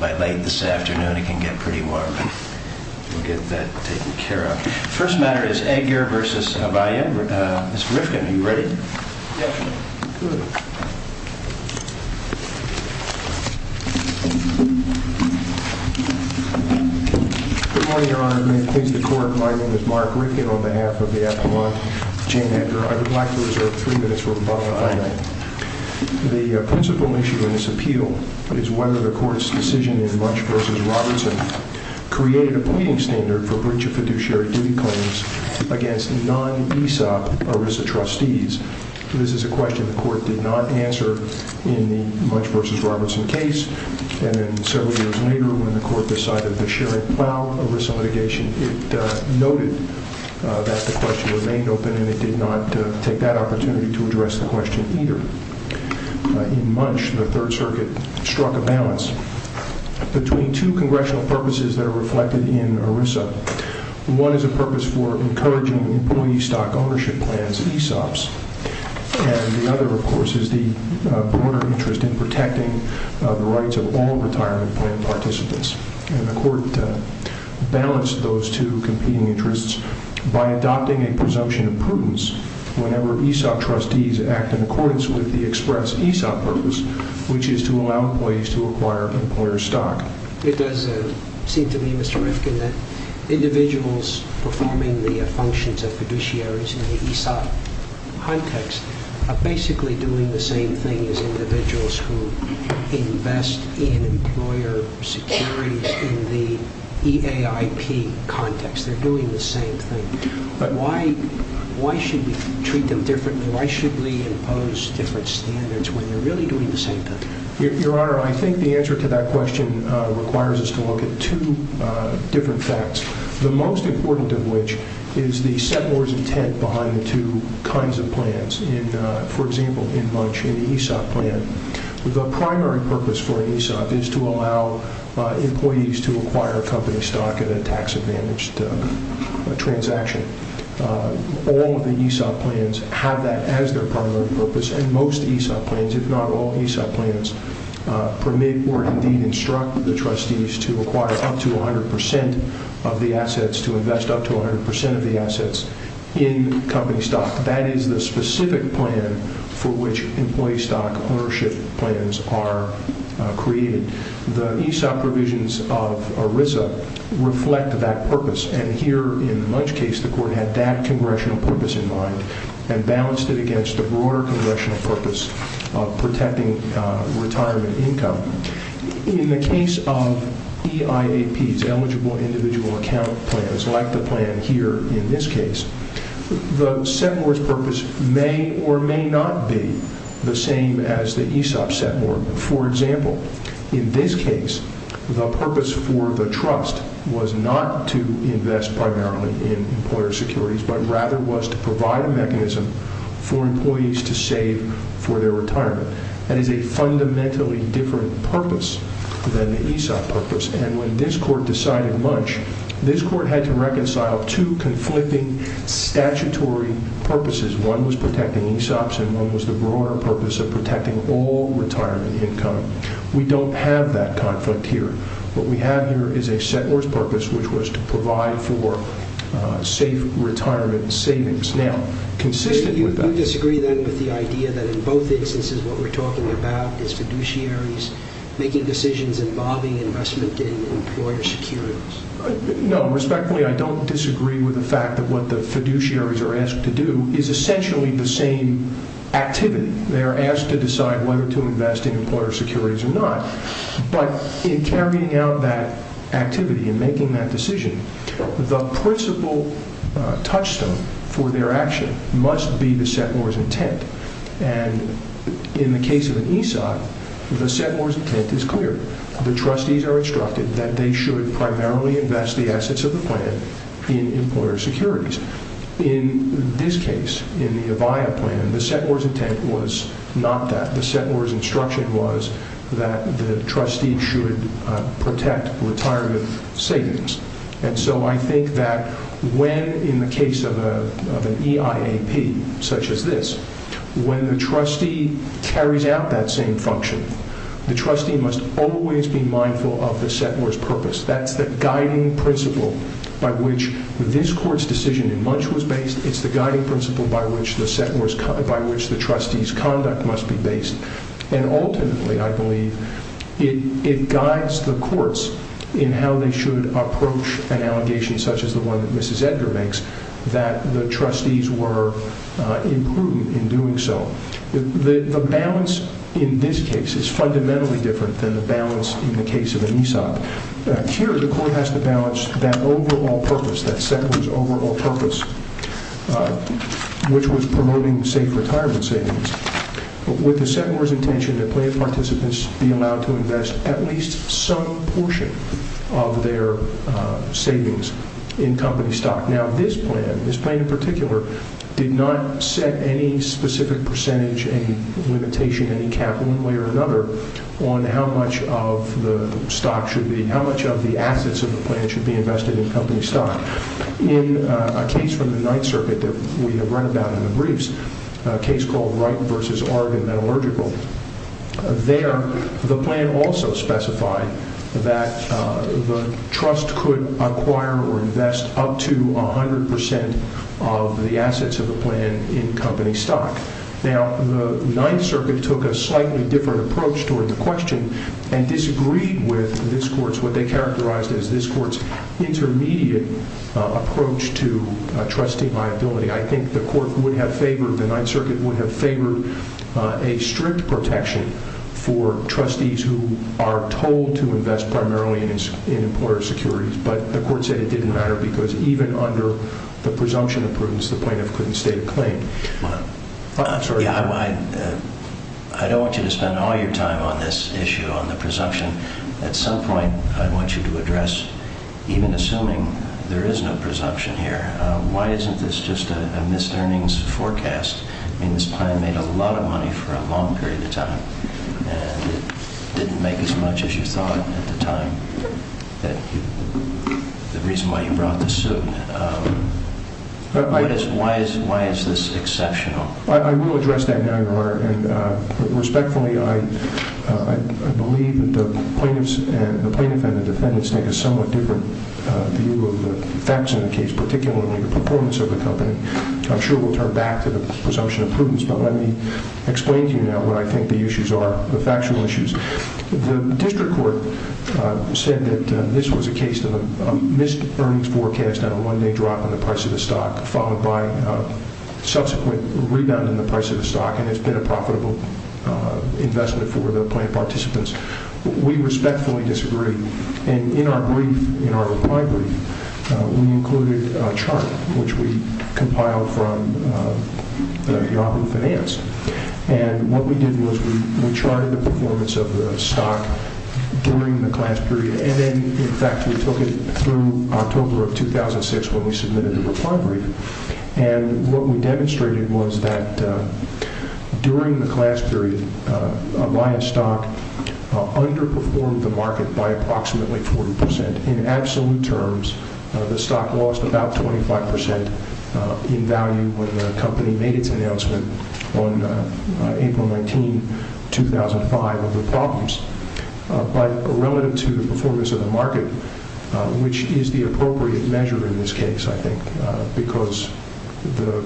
By late this afternoon, it can get pretty warm. We'll get that taken care of. The first matter is Edgar v. Avaya. Mr. Rifkin, are you ready? Yes, sir. Good. Good morning, Your Honor. May it please the Court, my name is Mark Rifkin on behalf of the Appellant, Jane Edgar. Fine. The principal issue in this appeal is whether the Court's decision in Munch v. Robertson created a pleading standard for breach of fiduciary duty claims against non-ESOP ERISA trustees. This is a question the Court did not answer in the Munch v. Robertson case, and then several years later when the Court decided the Sharon Plow ERISA litigation, it noted that the question remained open and it did not take that opportunity to address the question either. In Munch, the Third Circuit struck a balance between two congressional purposes that are reflected in ERISA. One is a purpose for encouraging employee stock ownership plans, ESOPs, and the other, of course, is the broader interest in protecting the rights of all retirement plan participants. And the Court balanced those two competing interests by adopting a presumption of prudence whenever ESOP trustees act in accordance with the express ESOP purpose, which is to allow employees to acquire employer stock. It does seem to me, Mr. Rifkin, that individuals performing the functions of fiduciaries in the ESOP context are basically doing the same thing as individuals who invest in employer securities in the EAIP context. They're doing the same thing. Why should we treat them differently? Why should we impose different standards when they're really doing the same thing? Your Honor, I think the answer to that question requires us to look at two different facts, the most important of which is the settler's intent behind the two kinds of plans. For example, in Munch, in the ESOP plan, the primary purpose for an ESOP is to allow employees to acquire company stock in a tax-advantaged transaction. All of the ESOP plans have that as their primary purpose, and most ESOP plans, if not all ESOP plans, permit or indeed instruct the trustees to acquire up to 100 percent of the assets, to invest up to 100 percent of the assets in company stock. That is the specific plan for which employee stock ownership plans are created. The ESOP provisions of ERISA reflect that purpose, and here in the Munch case, the Court had that congressional purpose in mind and balanced it against a broader congressional purpose of protecting retirement income. In the case of EIAPs, eligible individual account plans, like the plan here in this case, the settler's purpose may or may not be the same as the ESOP settler. For example, in this case, the purpose for the trust was not to invest primarily in employer securities, but rather was to provide a mechanism for employees to save for their retirement. That is a fundamentally different purpose than the ESOP purpose, and when this Court decided Munch, this Court had to reconcile two conflicting statutory purposes. One was protecting ESOPs, and one was the broader purpose of protecting all retirement income. We don't have that conflict here. What we have here is a settler's purpose, which was to provide for safe retirement savings. Now, consistent with that... Do you disagree, then, with the idea that in both instances what we're talking about is fiduciaries making decisions involving investment in employer securities? No. Respectfully, I don't disagree with the fact that what the fiduciaries are asked to do is essentially the same activity. They are asked to decide whether to invest in employer securities or not. But in carrying out that activity and making that decision, the principal touchstone for their action must be the settler's intent. And in the case of an ESOP, the settler's intent is clear. The trustees are instructed that they should primarily invest the assets of the plan in employer securities. In this case, in the Avaya plan, the settler's intent was not that. The settler's instruction was that the trustee should protect retirement savings. And so I think that when, in the case of an EIAP such as this, when the trustee carries out that same function, the trustee must always be mindful of the settler's purpose. That's the guiding principle by which this court's decision in Munch was based. It's the guiding principle by which the trustee's conduct must be based. And ultimately, I believe, it guides the courts in how they should approach an allegation such as the one that Mrs. Edgar makes, that the trustees were imprudent in doing so. The balance in this case is fundamentally different than the balance in the case of an ESOP. Here, the court has to balance that overall purpose, that settler's overall purpose, which was promoting safe retirement savings, with the settler's intention that plan participants be allowed to invest at least some portion of their savings in company stock. Now, this plan, this plan in particular, did not set any specific percentage, any limitation, any cap, one way or another, on how much of the stock should be, how much of the assets of the plan should be invested in company stock. In a case from the Ninth Circuit that we have read about in the briefs, a case called Wright v. Argon, that allurgical, there, the plan also specified that the trust could acquire or invest up to 100% of the assets of the plan in company stock. Now, the Ninth Circuit took a slightly different approach toward the question and disagreed with this court's, what they characterized as this court's, intermediate approach to trustee liability. I think the court would have favored, the Ninth Circuit would have favored, a strict protection for trustees who are told to invest primarily in employer securities, but the court said it didn't matter because even under the presumption of prudence, it was the plaintiff couldn't state a claim. I'm sorry. I don't want you to spend all your time on this issue, on the presumption. At some point, I want you to address, even assuming there is no presumption here, why isn't this just a missed earnings forecast? I mean, this plan made a lot of money for a long period of time and didn't make as much as you thought at the time. The reason why you brought this suit. Why is this exceptional? I will address that now, Your Honor. Respectfully, I believe that the plaintiffs and the defendants make a somewhat different view of the facts in the case, particularly the performance of the company. I'm sure we'll turn back to the presumption of prudence, but let me explain to you now what I think the issues are, the factual issues. The district court said that this was a case of a missed earnings forecast and a one-day drop in the price of the stock, followed by a subsequent rebound in the price of the stock, and it's been a profitable investment for the plaintiff participants. We respectfully disagree. In our brief, in our reply brief, we included a chart, which we compiled from the Bureau of Finance. What we did was we charted the performance of the stock during the class period, and then, in fact, we took it through October of 2006 when we submitted the reply brief. What we demonstrated was that during the class period, Alliance Stock underperformed the market by approximately 40%. In absolute terms, the stock lost about 25% in value when the company made its announcement on April 19, 2005 of the problems, but relative to the performance of the market, which is the appropriate measure in this case, I think, because the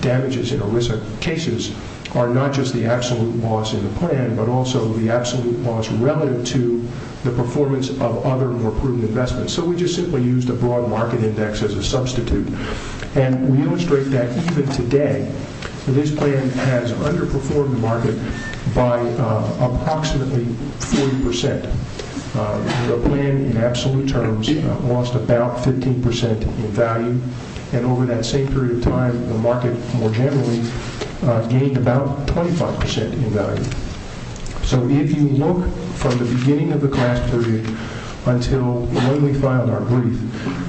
damages in illicit cases are not just the absolute loss in the plan, but also the absolute loss relative to the performance of other more prudent investments. So we just simply used a broad market index as a substitute, and we illustrate that even today. This plan has underperformed the market by approximately 40%. The plan, in absolute terms, lost about 15% in value, and over that same period of time, the market more generally gained about 25% in value. So if you look from the beginning of the class period until when we filed our brief,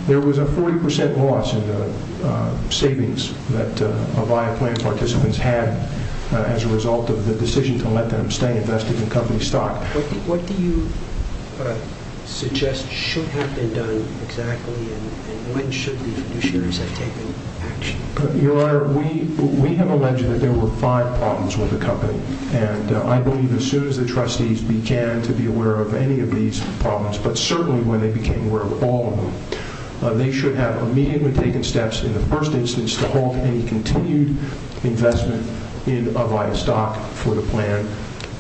there was a 40% loss in the savings that Avaya Plans participants had as a result of the decision to let them stay invested in company stock. What do you suggest should have been done exactly, and when should the fiduciaries have taken action? Your Honor, we have alleged that there were five problems with the company, and I believe as soon as the trustees began to be aware of any of these problems, but certainly when they became aware of all of them, they should have immediately taken steps in the first instance to halt any continued investment in Avaya stock for the plan,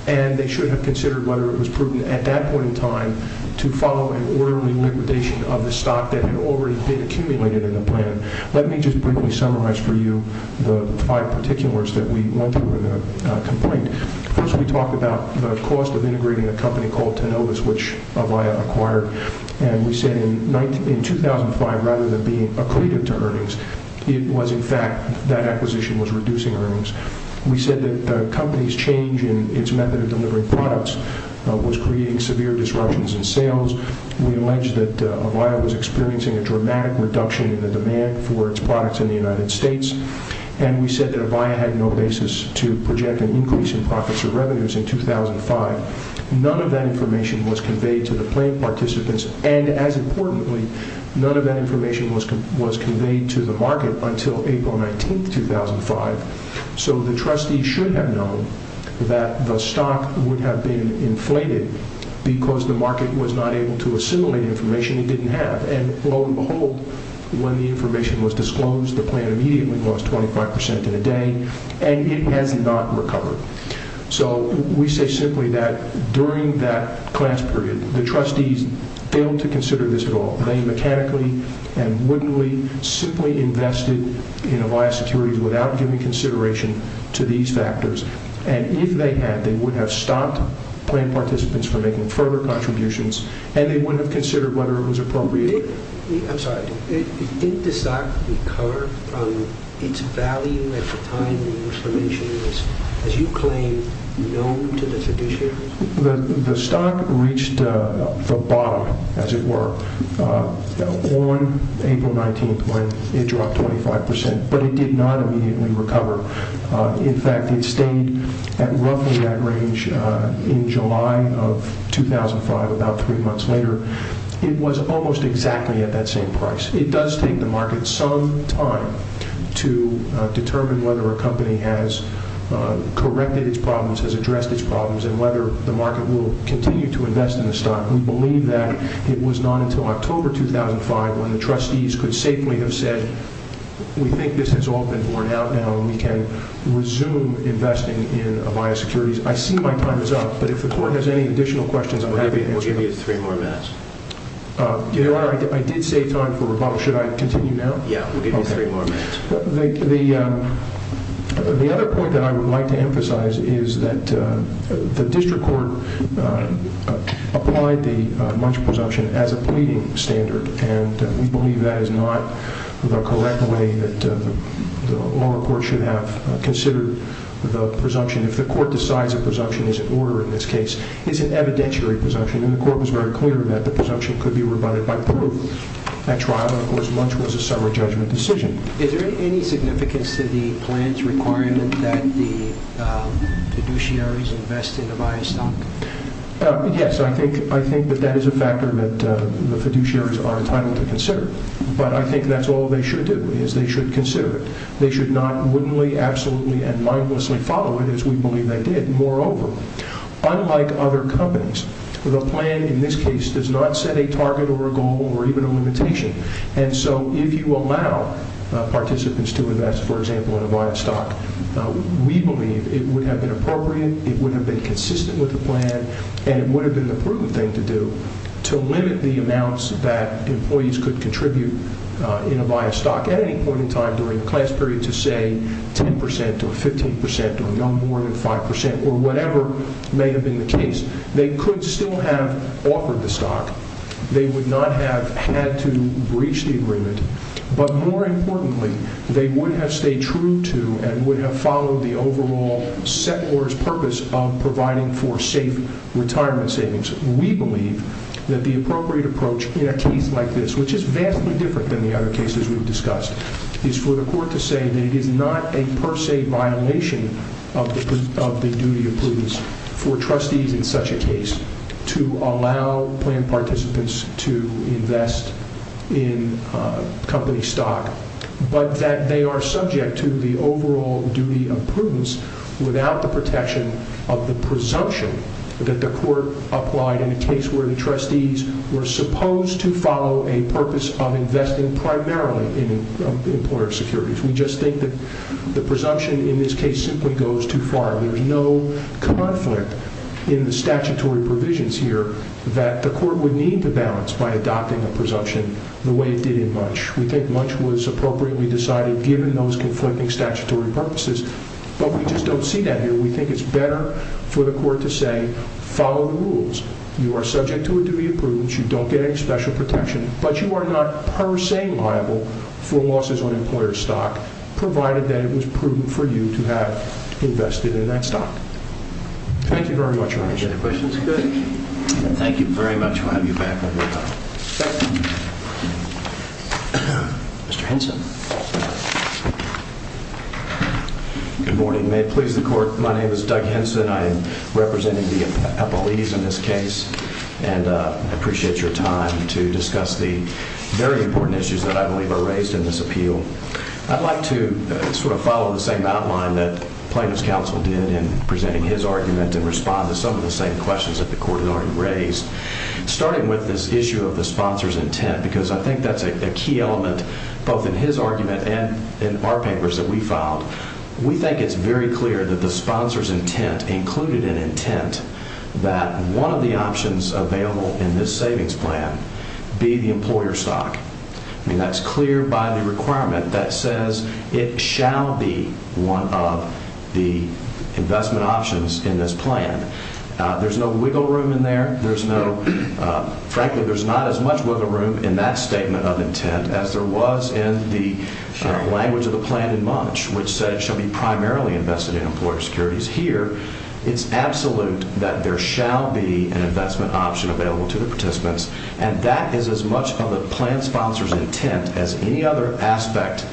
and they should have considered whether it was prudent at that point in time to follow an orderly liquidation of the stock that had already been accumulated in the plan. Let me just briefly summarize for you the five particulars that we went through in the complaint. First, we talked about the cost of integrating a company called Tenovus, which Avaya acquired, and we said in 2005, rather than being accretive to earnings, it was in fact that acquisition was reducing earnings. We said that the company's change in its method of delivering products was creating severe disruptions in sales. We alleged that Avaya was experiencing a dramatic reduction in the demand for its products in the United States, and we said that Avaya had no basis to project an increase in profits or revenues in 2005. None of that information was conveyed to the plan participants, and as importantly, none of that information was conveyed to the market until April 19, 2005, so the trustees should have known that the stock would have been inflated because the market was not able to assimilate information it didn't have, and lo and behold, when the information was disclosed, the plan immediately lost 25% in a day, and it has not recovered. So we say simply that during that glance period, the trustees failed to consider this at all. They mechanically and wittingly simply invested in Avaya Securities without giving consideration to these factors, and if they had, they would have stopped plan participants from making further contributions, and they wouldn't have considered whether it was appropriate. I'm sorry. Didn't the stock recover from its value at the time the information was, as you claim, known to the fiduciary? The stock reached the bottom, as it were, on April 19 when it dropped 25%, but it did not immediately recover. In fact, it stayed at roughly that range in July of 2005, about three months later. It was almost exactly at that same price. It does take the market some time to determine whether a company has corrected its problems, has addressed its problems, and whether the market will continue to invest in the stock. We believe that it was not until October 2005 when the trustees could safely have said, we think this has all been borne out now and we can resume investing in Avaya Securities. I see my time is up, but if the court has any additional questions, I'm happy to answer them. We'll give you three more minutes. Your Honor, I did save time for rebuttal. Should I continue now? Yeah, we'll give you three more minutes. The other point that I would like to emphasize is that the district court applied the munch presumption as a pleading standard, and we believe that is not the correct way that the lower court should have considered the presumption. If the court decides a presumption is in order in this case, it's an evidentiary presumption, and the court was very clear that the presumption could be rebutted by proof at trial, and of course munch was a summary judgment decision. Is there any significance to the plant's requirement that the fiduciaries invest in Avaya stock? Yes, I think that that is a factor that the fiduciaries are entitled to consider, but I think that's all they should do is they should consider it. They should not wittingly, absolutely, and mindlessly follow it as we believe they did. Moreover, unlike other companies, the plan in this case does not set a target or a goal or even a limitation, and so if you allow participants to invest, for example, in Avaya stock, we believe it would have been appropriate, it would have been consistent with the plan, and it would have been the proven thing to do to limit the amounts that employees could contribute in Avaya stock at any point in time during the class period to say 10 percent or 15 percent or no more than 5 percent or whatever may have been the case. They could still have offered the stock. They would not have had to breach the agreement, but more importantly, they would have stayed true to and would have followed the overall set order's purpose of providing for safe retirement savings. We believe that the appropriate approach in a case like this, which is vastly different than the other cases we've discussed, is for the court to say that it is not a per se violation of the duty of prudence for trustees in such a case to allow plan participants to invest in company stock, but that they are subject to the overall duty of prudence without the protection of the presumption that the court applied in a case where the trustees were supposed to follow a purpose of investing primarily in employer securities. We just think that the presumption in this case simply goes too far. There's no conflict in the statutory provisions here that the court would need to balance by adopting a presumption the way it did in Munch. We think Munch was appropriately decided given those conflicting statutory purposes, but we just don't see that here. We think it's better for the court to say, follow the rules. You are subject to a duty of prudence. You don't get any special protection, but you are not per se liable for losses on employer stock, provided that it was prudent for you to have invested in that stock. Thank you very much. Any questions? Good. Thank you very much. We'll have you back in a little while. Mr. Henson. Good morning. May it please the court, my name is Doug Henson. I am representing the appellees in this case, and I appreciate your time to discuss the very important issues that I believe are raised in this appeal. I'd like to sort of follow the same outline that plaintiff's counsel did in presenting his argument and respond to some of the same questions that the court has already raised, starting with this issue of the sponsor's intent, because I think that's a key element both in his argument and in our papers that we filed. We think it's very clear that the sponsor's intent included an intent that one of the options available in this savings plan be the employer stock. I mean, that's clear by the requirement that says it shall be one of the investment options in this plan. There's no wiggle room in there. There's no, frankly, there's not as much wiggle room in that statement of intent as there was in the language of the plan in March, which said it shall be primarily invested in employer securities. Here, it's absolute that there shall be an investment option available to the participants, and that is as much of the plan sponsor's intent as any other aspect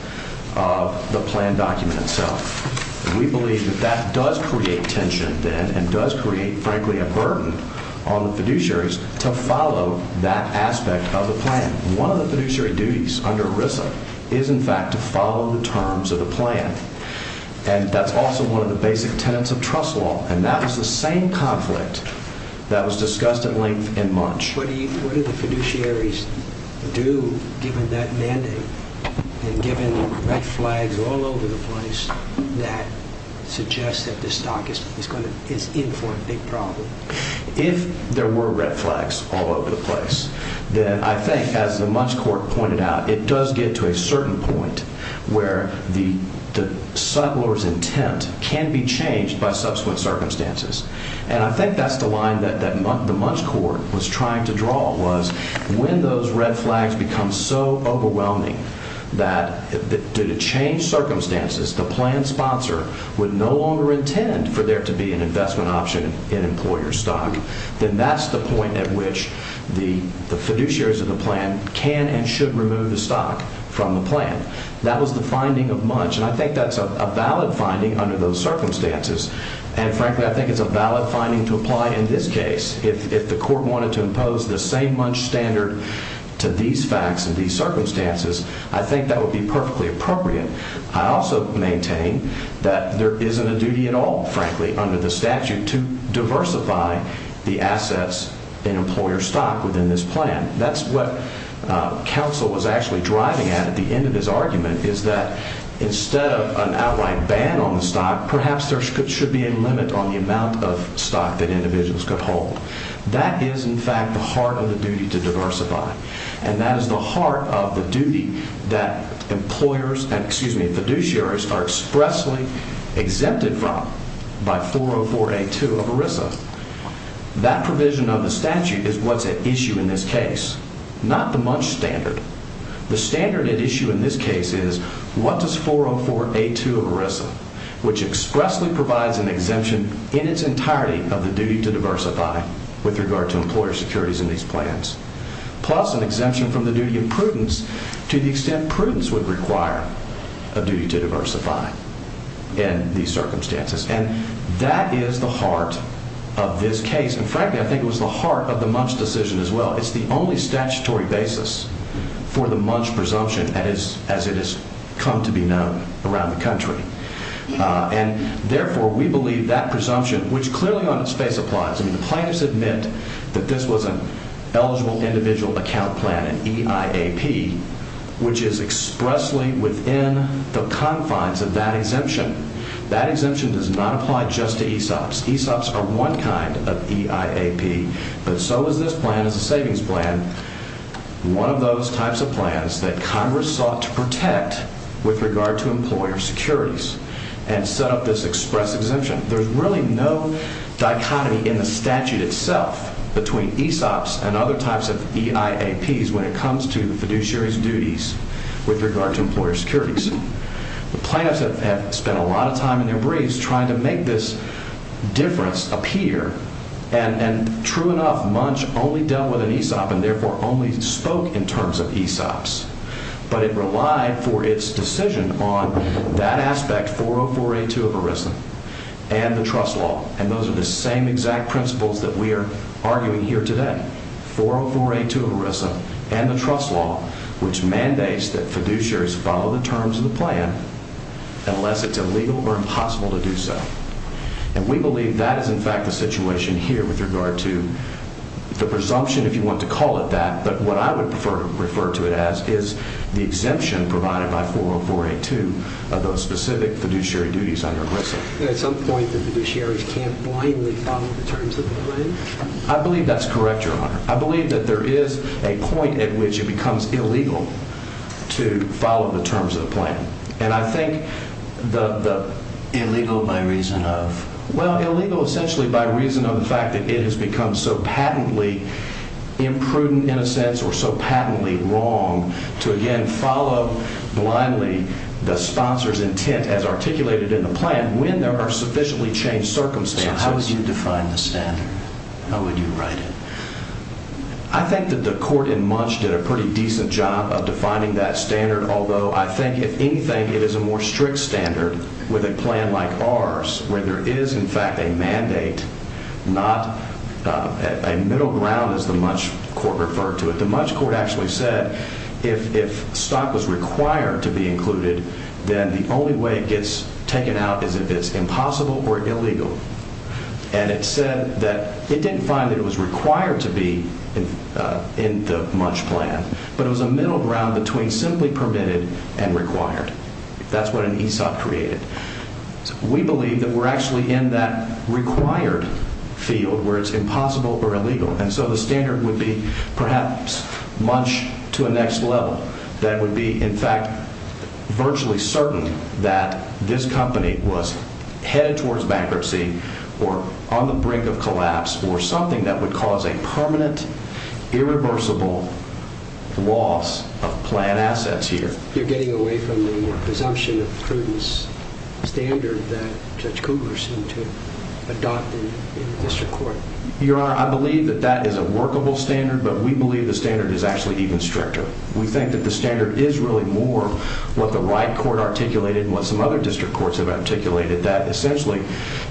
of the plan document itself. We believe that that does create tension, then, and does create, frankly, a burden on the fiduciaries to follow that aspect of the plan. One of the fiduciary duties under ERISA is, in fact, to follow the terms of the plan, and that's also one of the basic tenets of trust law, and that was the same conflict that was discussed at length in March. What do the fiduciaries do, given that mandate, and given the red flags all over the place that suggest that the stock is in for a big problem? If there were red flags all over the place, then I think, as the Munch Court pointed out, it does get to a certain point where the settler's intent can be changed by subsequent circumstances, and I think that's the line that the Munch Court was trying to draw, was when those red flags become so overwhelming that, due to changed circumstances, the plan sponsor would no longer intend for there to be an investment option in employer stock, then that's the point at which the fiduciaries of the plan can and should remove the stock from the plan. That was the finding of Munch, and I think that's a valid finding under those circumstances, and, frankly, I think it's a valid finding to apply in this case. If the court wanted to impose the same Munch standard to these facts and these circumstances, I think that would be perfectly appropriate. I also maintain that there isn't a duty at all, frankly, under the statute, to diversify the assets in employer stock within this plan. That's what counsel was actually driving at at the end of his argument, is that instead of an outright ban on the stock, perhaps there should be a limit on the amount of stock that individuals could hold. That is, in fact, the heart of the duty to diversify, and that is the heart of the duty that employers and, excuse me, fiduciaries are expressly exempted from by 404A2 of ERISA. That provision of the statute is what's at issue in this case, not the Munch standard. The standard at issue in this case is what does 404A2 of ERISA, which expressly provides an exemption in its entirety of the duty to diversify with regard to employer securities in these plans, plus an exemption from the duty of prudence to the extent prudence would require a duty to diversify in these circumstances. That is the heart of this case, and frankly, I think it was the heart of the Munch decision as well. It's the only statutory basis for the Munch presumption as it has come to be known around the country. Therefore, we believe that presumption, which clearly on its face applies, I mean, the plaintiffs admit that this was an eligible individual account plan, an EIAP, which is expressly within the confines of that exemption. That exemption does not apply just to ESOPs. ESOPs are one kind of EIAP, but so is this plan as a savings plan, one of those types of plans that Congress sought to protect with regard to employer securities and set up this express exemption. There's really no dichotomy in the statute itself between ESOPs and other types of EIAPs when it comes to the fiduciary's duties with regard to employer securities. The plaintiffs have spent a lot of time in their briefs trying to make this difference appear, and true enough, Munch only dealt with an ESOP and therefore only spoke in terms of ESOPs, but it relied for its decision on that aspect 40482 of ERISA and the trust law, and those are the same exact principles that we are arguing here today, 40482 of ERISA and the trust law, which mandates that fiduciaries follow the terms of the plan unless it's illegal or impossible to do so. And we believe that is in fact the situation here with regard to the presumption, if you want to call it that, but what I would prefer to refer to it as is the exemption provided by 40482 of those specific fiduciary duties under ERISA. At some point, the fiduciaries can't blindly follow the terms of the plan? I believe that's correct, Your Honor. I believe that there is a point at which it becomes illegal to follow the terms of the plan, and I think the… Illegal by reason of? Well, illegal essentially by reason of the fact that it has become so patently imprudent in a sense or so patently wrong to again follow blindly the sponsor's intent as articulated in the plan when there are sufficiently changed circumstances. So how would you define the standard? How would you write it? I think that the court in Munch did a pretty decent job of defining that standard, although I think if anything it is a more strict standard with a plan like ours where there is in fact a mandate, not a middle ground as the Munch court referred to it. The Munch court actually said if stock was required to be included, then the only way it gets taken out is if it's impossible or illegal. And it said that it didn't find that it was required to be in the Munch plan, but it was a middle ground between simply permitted and required. That's what an ESOP created. We believe that we're actually in that required field where it's impossible or illegal, and so the standard would be perhaps Munch to a next level that would be in fact virtually certain that this company was headed towards bankruptcy or on the brink of collapse or something that would cause a permanent irreversible loss of plan assets here. You're getting away from the presumption of prudence standard that Judge Kugler seemed to adopt in the district court. Your Honor, I believe that that is a workable standard, but we believe the standard is actually even stricter. We think that the standard is really more what the Wright court articulated and what some other district courts have articulated, that essentially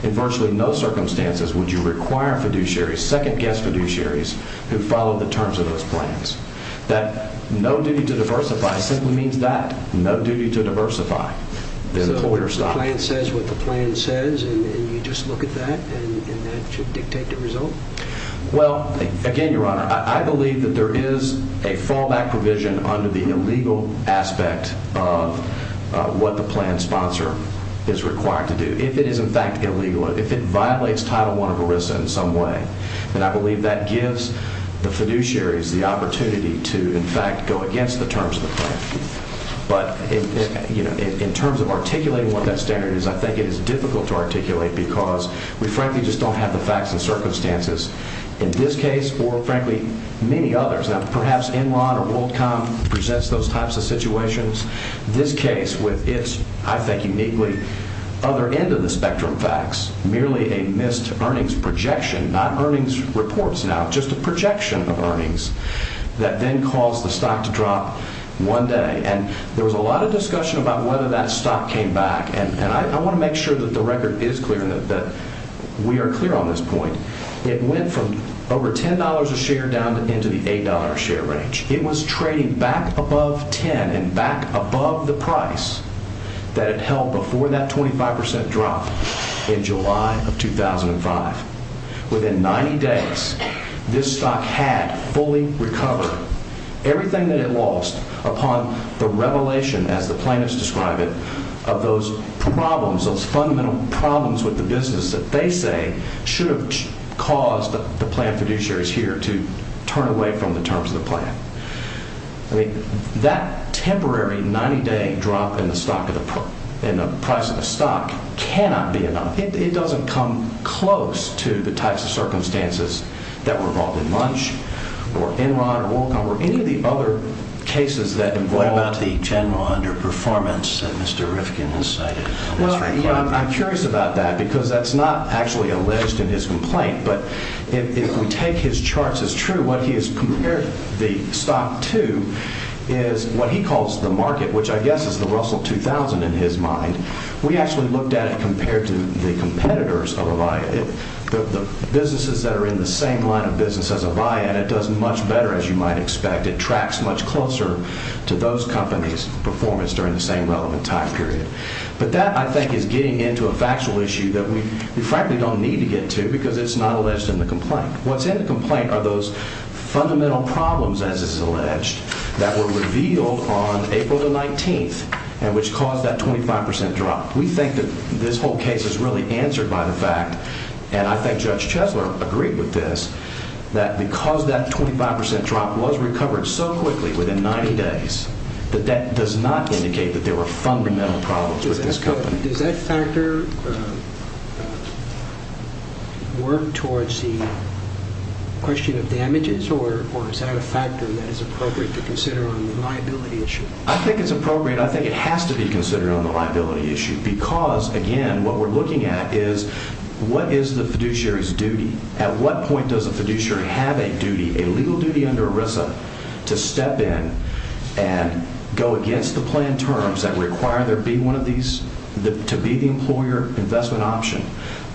in virtually no circumstances would you require fiduciaries, second-guess fiduciaries who follow the terms of those plans, that no duty to diversify simply means that. No duty to diversify. So the plan says what the plan says, and you just look at that, and that should dictate the result? Well, again, Your Honor, I believe that there is a fallback provision under the illegal aspect of what the plan sponsor is required to do. If it is in fact illegal, if it violates Title I of ERISA in some way, then I believe that gives the fiduciaries the opportunity to in fact go against the terms of the plan. But in terms of articulating what that standard is, I think it is difficult to articulate because we frankly just don't have the facts and circumstances in this case or frankly many others. Now perhaps Enron or WorldCom presents those types of situations. This case with its, I think uniquely, other end of the spectrum facts, merely a missed earnings projection, not earnings reports now, just a projection of earnings that then caused the stock to drop one day. And there was a lot of discussion about whether that stock came back, and I want to make sure that the record is clear and that we are clear on this point. It went from over $10 a share down into the $8 a share range. It was trading back above $10 and back above the price that it held before that 25% drop in July of 2005. Within 90 days, this stock had fully recovered. Everything that it lost upon the revelation, as the plaintiffs describe it, of those problems, those fundamental problems with the business that they say should have caused the plan fiduciaries here to turn away from the terms of the plan. That temporary 90-day drop in the price of the stock cannot be enough. It doesn't come close to the types of circumstances that were involved in Munch or Enron or WorldCom What about the general underperformance that Mr. Rifkin has cited? I'm curious about that because that's not actually alleged in his complaint, but if we take his charts as true, what he has compared the stock to is what he calls the market, which I guess is the Russell 2000 in his mind. We actually looked at it compared to the competitors of Avaya. The businesses that are in the same line of business as Avaya, and it does much better, as you might expect. It tracks much closer to those companies' performance during the same relevant time period. But that, I think, is getting into a factual issue that we frankly don't need to get to because it's not alleged in the complaint. What's in the complaint are those fundamental problems, as it's alleged, that were revealed on April the 19th and which caused that 25% drop. We think that this whole case is really answered by the fact, and I think Judge Chesler agreed with this, that because that 25% drop was recovered so quickly, within 90 days, that that does not indicate that there were fundamental problems with this company. Does that factor work towards the question of damages, or is that a factor that is appropriate to consider on the liability issue? I think it's appropriate. I think it has to be considered on the liability issue because, again, what we're looking at is what is the fiduciary's duty? At what point does a fiduciary have a duty, a legal duty under ERISA, to step in and go against the planned terms that require there be one of these, to be the employer investment option?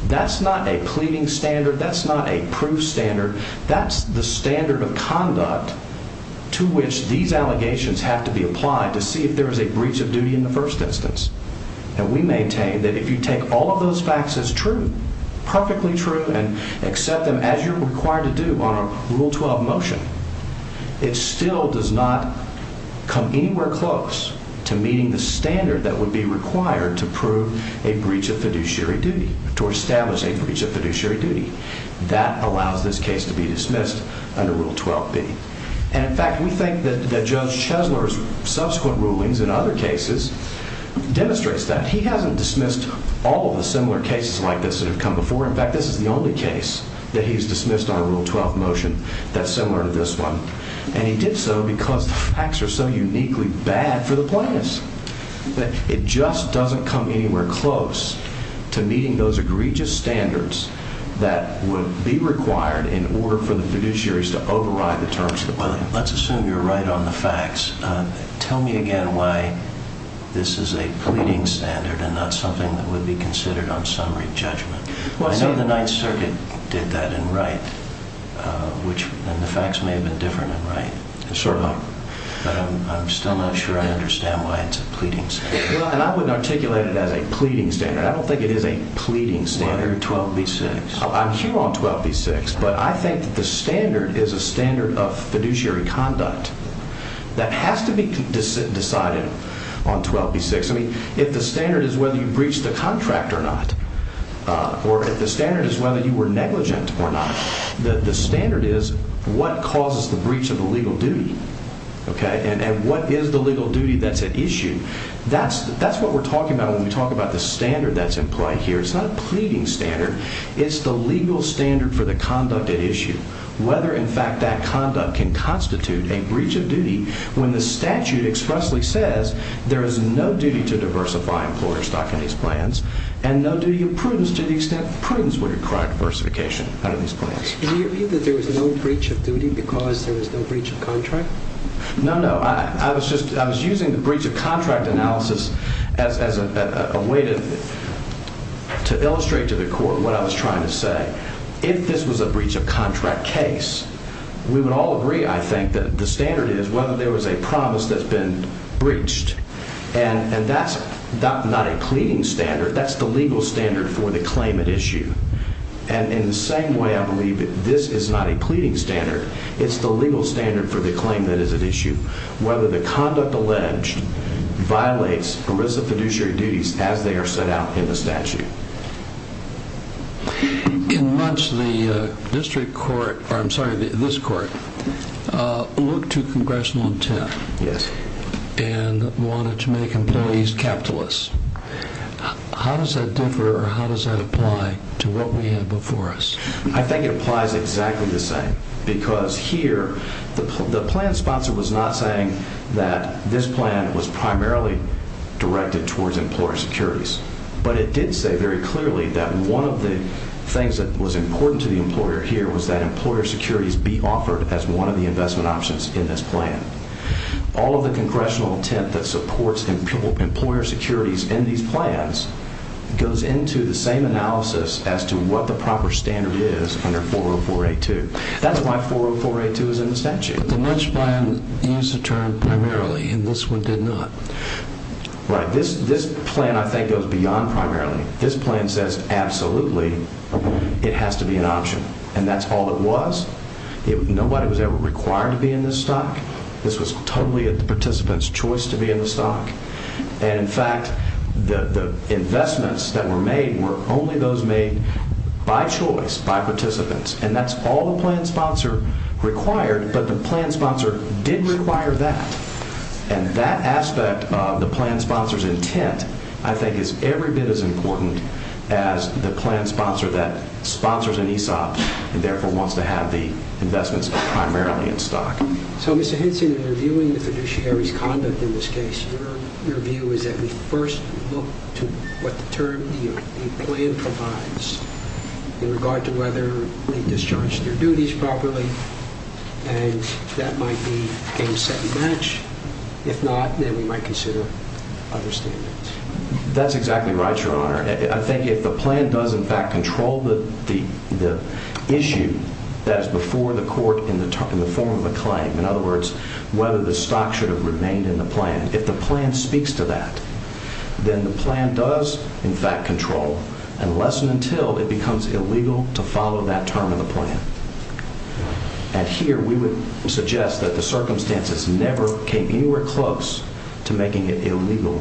That's not a pleading standard. That's not a proof standard. That's the standard of conduct to which these allegations have to be applied to see if there is a breach of duty in the first instance. And we maintain that if you take all of those facts as true, perfectly true, and accept them as you're required to do on a Rule 12 motion, it still does not come anywhere close to meeting the standard that would be required to prove a breach of fiduciary duty, to establish a breach of fiduciary duty. That allows this case to be dismissed under Rule 12b. And, in fact, we think that Judge Chesler's subsequent rulings in other cases demonstrates that. He hasn't dismissed all of the similar cases like this that have come before. In fact, this is the only case that he's dismissed on a Rule 12 motion that's similar to this one. And he did so because the facts are so uniquely bad for the plaintiffs. It just doesn't come anywhere close to meeting those egregious standards that would be required in order for the fiduciaries to override the terms. Well, let's assume you're right on the facts. Tell me again why this is a pleading standard and not something that would be considered on summary judgment. I know the Ninth Circuit did that in Wright, and the facts may have been different in Wright, but I'm still not sure I understand why it's a pleading standard. I would articulate it as a pleading standard. I don't think it is a pleading standard. Why are you on 12b-6? I'm here on 12b-6, but I think the standard is a standard of fiduciary conduct that has to be decided on 12b-6. I mean, if the standard is whether you breached the contract or not or if the standard is whether you were negligent or not, the standard is what causes the breach of the legal duty, okay, and what is the legal duty that's at issue. That's what we're talking about when we talk about the standard that's in play here. It's not a pleading standard. It's the legal standard for the conduct at issue, whether, in fact, that conduct can constitute a breach of duty when the statute expressly says there is no duty to diversify employer stock in these plans and no duty of prudence to the extent prudence would require diversification under these plans. Do you agree that there is no breach of duty because there is no breach of contract? No, no. I was using the breach of contract analysis as a way to illustrate to the court what I was trying to say. If this was a breach of contract case, we would all agree, I think, that the standard is whether there was a promise that's been breached, and that's not a pleading standard. That's the legal standard for the claim at issue, and in the same way I believe that this is not a pleading standard. It's the legal standard for the claim that is at issue, whether the conduct alleged violates ERISA fiduciary duties as they are set out in the statute. In much the district court, or I'm sorry, this court, looked to congressional intent and wanted to make employees capitalists. How does that differ or how does that apply to what we have before us? I think it applies exactly the same because here the plan sponsor was not saying that this plan was primarily directed towards employer securities, but it did say very clearly that one of the things that was important to the employer here was that employer securities be offered as one of the investment options in this plan. All of the congressional intent that supports employer securities in these plans goes into the same analysis as to what the proper standard is under 40482. That's why 40482 is in the statute. But the Munch plan used the term primarily, and this one did not. Right. This plan I think goes beyond primarily. This plan says absolutely it has to be an option, and that's all it was. Nobody was ever required to be in this stock. This was totally the participant's choice to be in the stock. In fact, the investments that were made were only those made by choice, by participants, and that's all the plan sponsor required. But the plan sponsor did require that, and that aspect of the plan sponsor's intent I think is every bit as important as the plan sponsor that sponsors an ESOP and therefore wants to have the investments primarily in stock. So, Mr. Henson, in reviewing the fiduciary's conduct in this case, your view is that we first look to what the term the plan provides in regard to whether we discharge their duties properly, and that might be game, set, and match. If not, then we might consider other standards. That's exactly right, Your Honor. I think if the plan does in fact control the issue that is before the court in the form of a claim, in other words, whether the stock should have remained in the plan, if the plan speaks to that, then the plan does in fact control unless and until it becomes illegal to follow that term in the plan. And here we would suggest that the circumstances never came anywhere close to making it illegal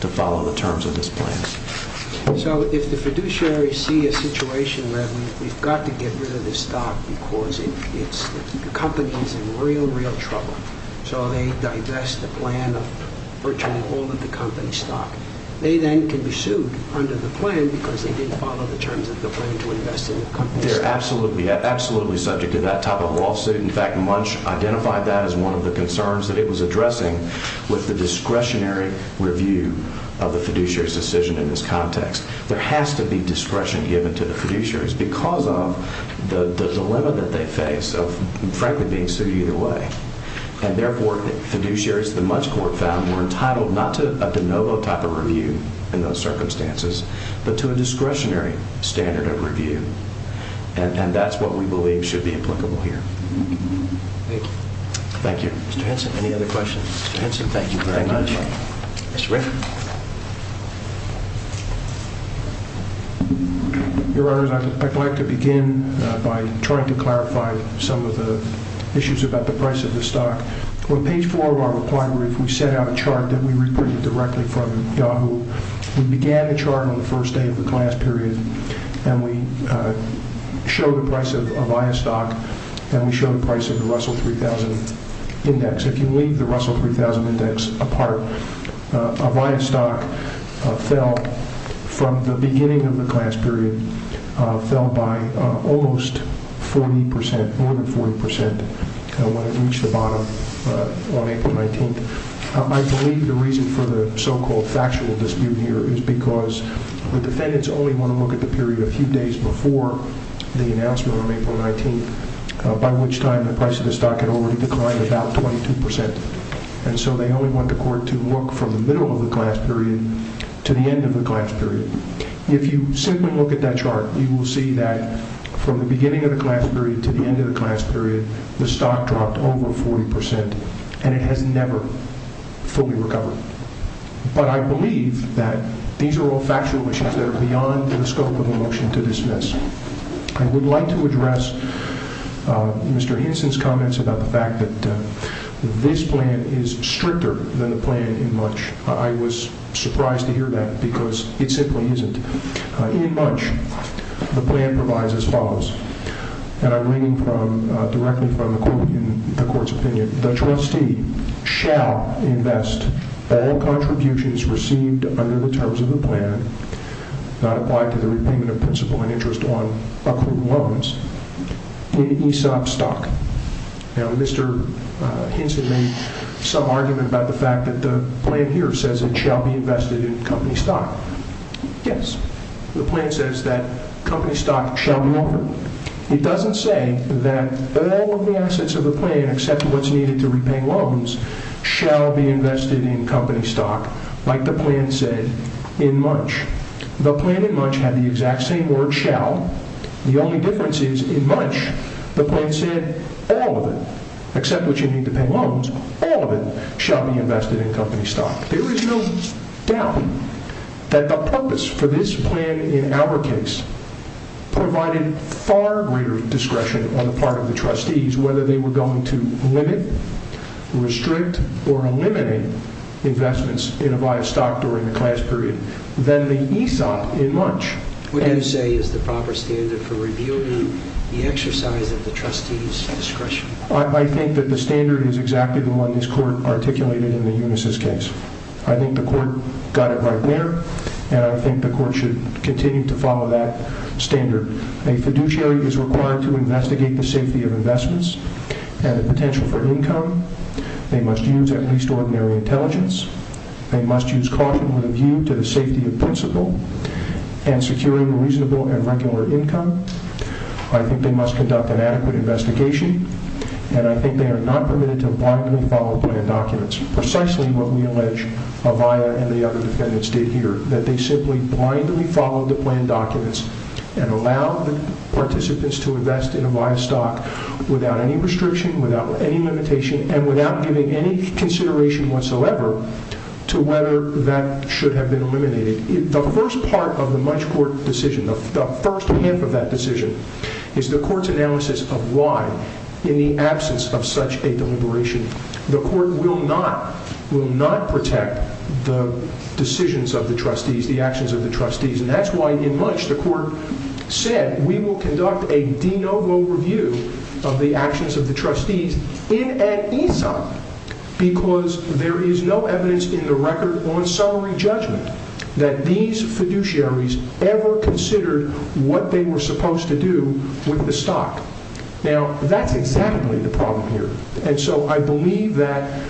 to follow the terms of this plan. So if the fiduciary sees a situation where we've got to get rid of this stock because the company's in real, real trouble, so they divest the plan of virtually all of the company's stock, they then can be sued under the plan because they didn't follow the terms of the plan to invest in the company's stock. They're absolutely subject to that type of lawsuit. In fact, Munch identified that as one of the concerns that it was addressing with the discretionary review of the fiduciary's decision in this context. There has to be discretion given to the fiduciaries because of the dilemma that they face of, frankly, being sued either way. And therefore, fiduciaries that Munch Court found were entitled not to a de novo type of review in those circumstances but to a discretionary standard of review, and that's what we believe should be applicable here. Thank you. Thank you. Mr. Henson, any other questions? Mr. Henson, thank you very much. Mr. Ritter. Your Honor, I'd like to begin by trying to clarify some of the issues about the price of the stock. On page 4 of our reply brief, we set out a chart that we reprinted directly from Yahoo. We began the chart on the first day of the class period, and we showed the price of Avaya stock, and we showed the price of the Russell 3000 index. If you leave the Russell 3000 index apart, Avaya stock fell from the beginning of the class period, fell by almost 40%, more than 40% when it reached the bottom on April 19th. I believe the reason for the so-called factual dispute here is because the defendants only want to look at the period a few days before the announcement on April 19th, by which time the price of the stock had already declined about 22%, and so they only want the court to look from the middle of the class period to the end of the class period. If you simply look at that chart, you will see that from the beginning of the class period to the end of the class period, the stock dropped over 40%, and it has never fully recovered. But I believe that these are all factual issues that are beyond the scope of a motion to dismiss. I would like to address Mr. Henson's comments about the fact that this plan is stricter than the plan in Munch. I was surprised to hear that because it simply isn't. In Munch, the plan provides as follows, and I'm reading directly from the court's opinion. The trustee shall invest all contributions received under the terms of the plan, not applied to the repayment of principal and interest on accrued loans, in ESOP stock. Now, Mr. Henson made some argument about the fact that the plan here says it shall be invested in company stock. Yes, the plan says that company stock shall be offered. It doesn't say that all of the assets of the plan, except what's needed to repay loans, shall be invested in company stock, like the plan said in Munch. The plan in Munch had the exact same word, shall. The only difference is, in Munch, the plan said all of it, except what you need to pay loans, all of it shall be invested in company stock. There is no doubt that the purpose for this plan in our case provided far greater discretion on the part of the trustees whether they were going to limit, restrict, or eliminate investments in Avaya stock during the class period than the ESOP in Munch. What do you say is the proper standard for revealing the exercise of the trustees' discretion? I think that the standard is exactly the one this court articulated in the Unisys case. I think the court got it right there, and I think the court should continue to follow that standard. A fiduciary is required to investigate the safety of investments and the potential for income. They must use at least ordinary intelligence. They must use caution with a view to the safety of principal. And securing reasonable and regular income. I think they must conduct an adequate investigation, and I think they are not permitted to blindly follow plan documents. Precisely what we allege Avaya and the other defendants did here, that they simply blindly followed the plan documents and allowed the participants to invest in Avaya stock without any restriction, without any limitation, and without giving any consideration whatsoever to whether that should have been eliminated. The first part of the Munch court decision, the first half of that decision, is the court's analysis of why, in the absence of such a deliberation, the court will not protect the decisions of the trustees, the actions of the trustees. And that's why in Munch the court said, we will conduct a de novo review of the actions of the trustees in an ESOP, because there is no evidence in the record on summary judgment that these fiduciaries ever considered what they were supposed to do with the stock. Now that's exactly the problem here. And so I believe that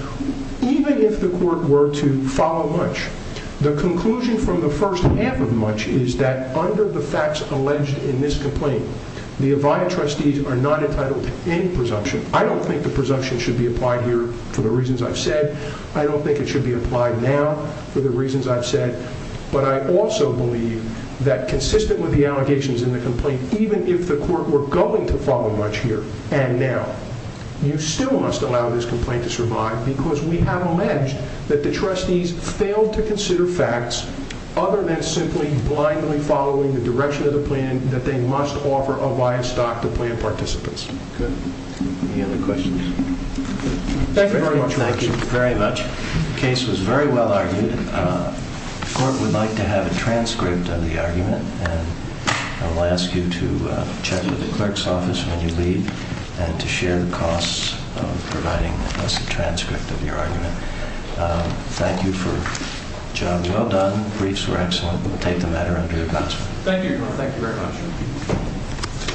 even if the court were to follow Munch, the conclusion from the first half of Munch is that under the facts alleged in this complaint, the Avaya trustees are not entitled to any presumption. I don't think the presumption should be applied here for the reasons I've said. I don't think it should be applied now for the reasons I've said. But I also believe that consistent with the allegations in the complaint, even if the court were going to follow Munch here and now, you still must allow this complaint to survive because we have alleged that the trustees failed to consider facts other than simply blindly following the direction of the plan that they must offer Avaya stock to plan participants. Any other questions? Thank you very much. Thank you very much. The case was very well argued. The court would like to have a transcript of the argument, and I'll ask you to check with the clerk's office when you leave and to share the costs of providing us a transcript of your argument. Thank you for the job. Well done. Briefs were excellent. We'll take the matter under your consideration. Thank you, Your Honor. Thank you very much.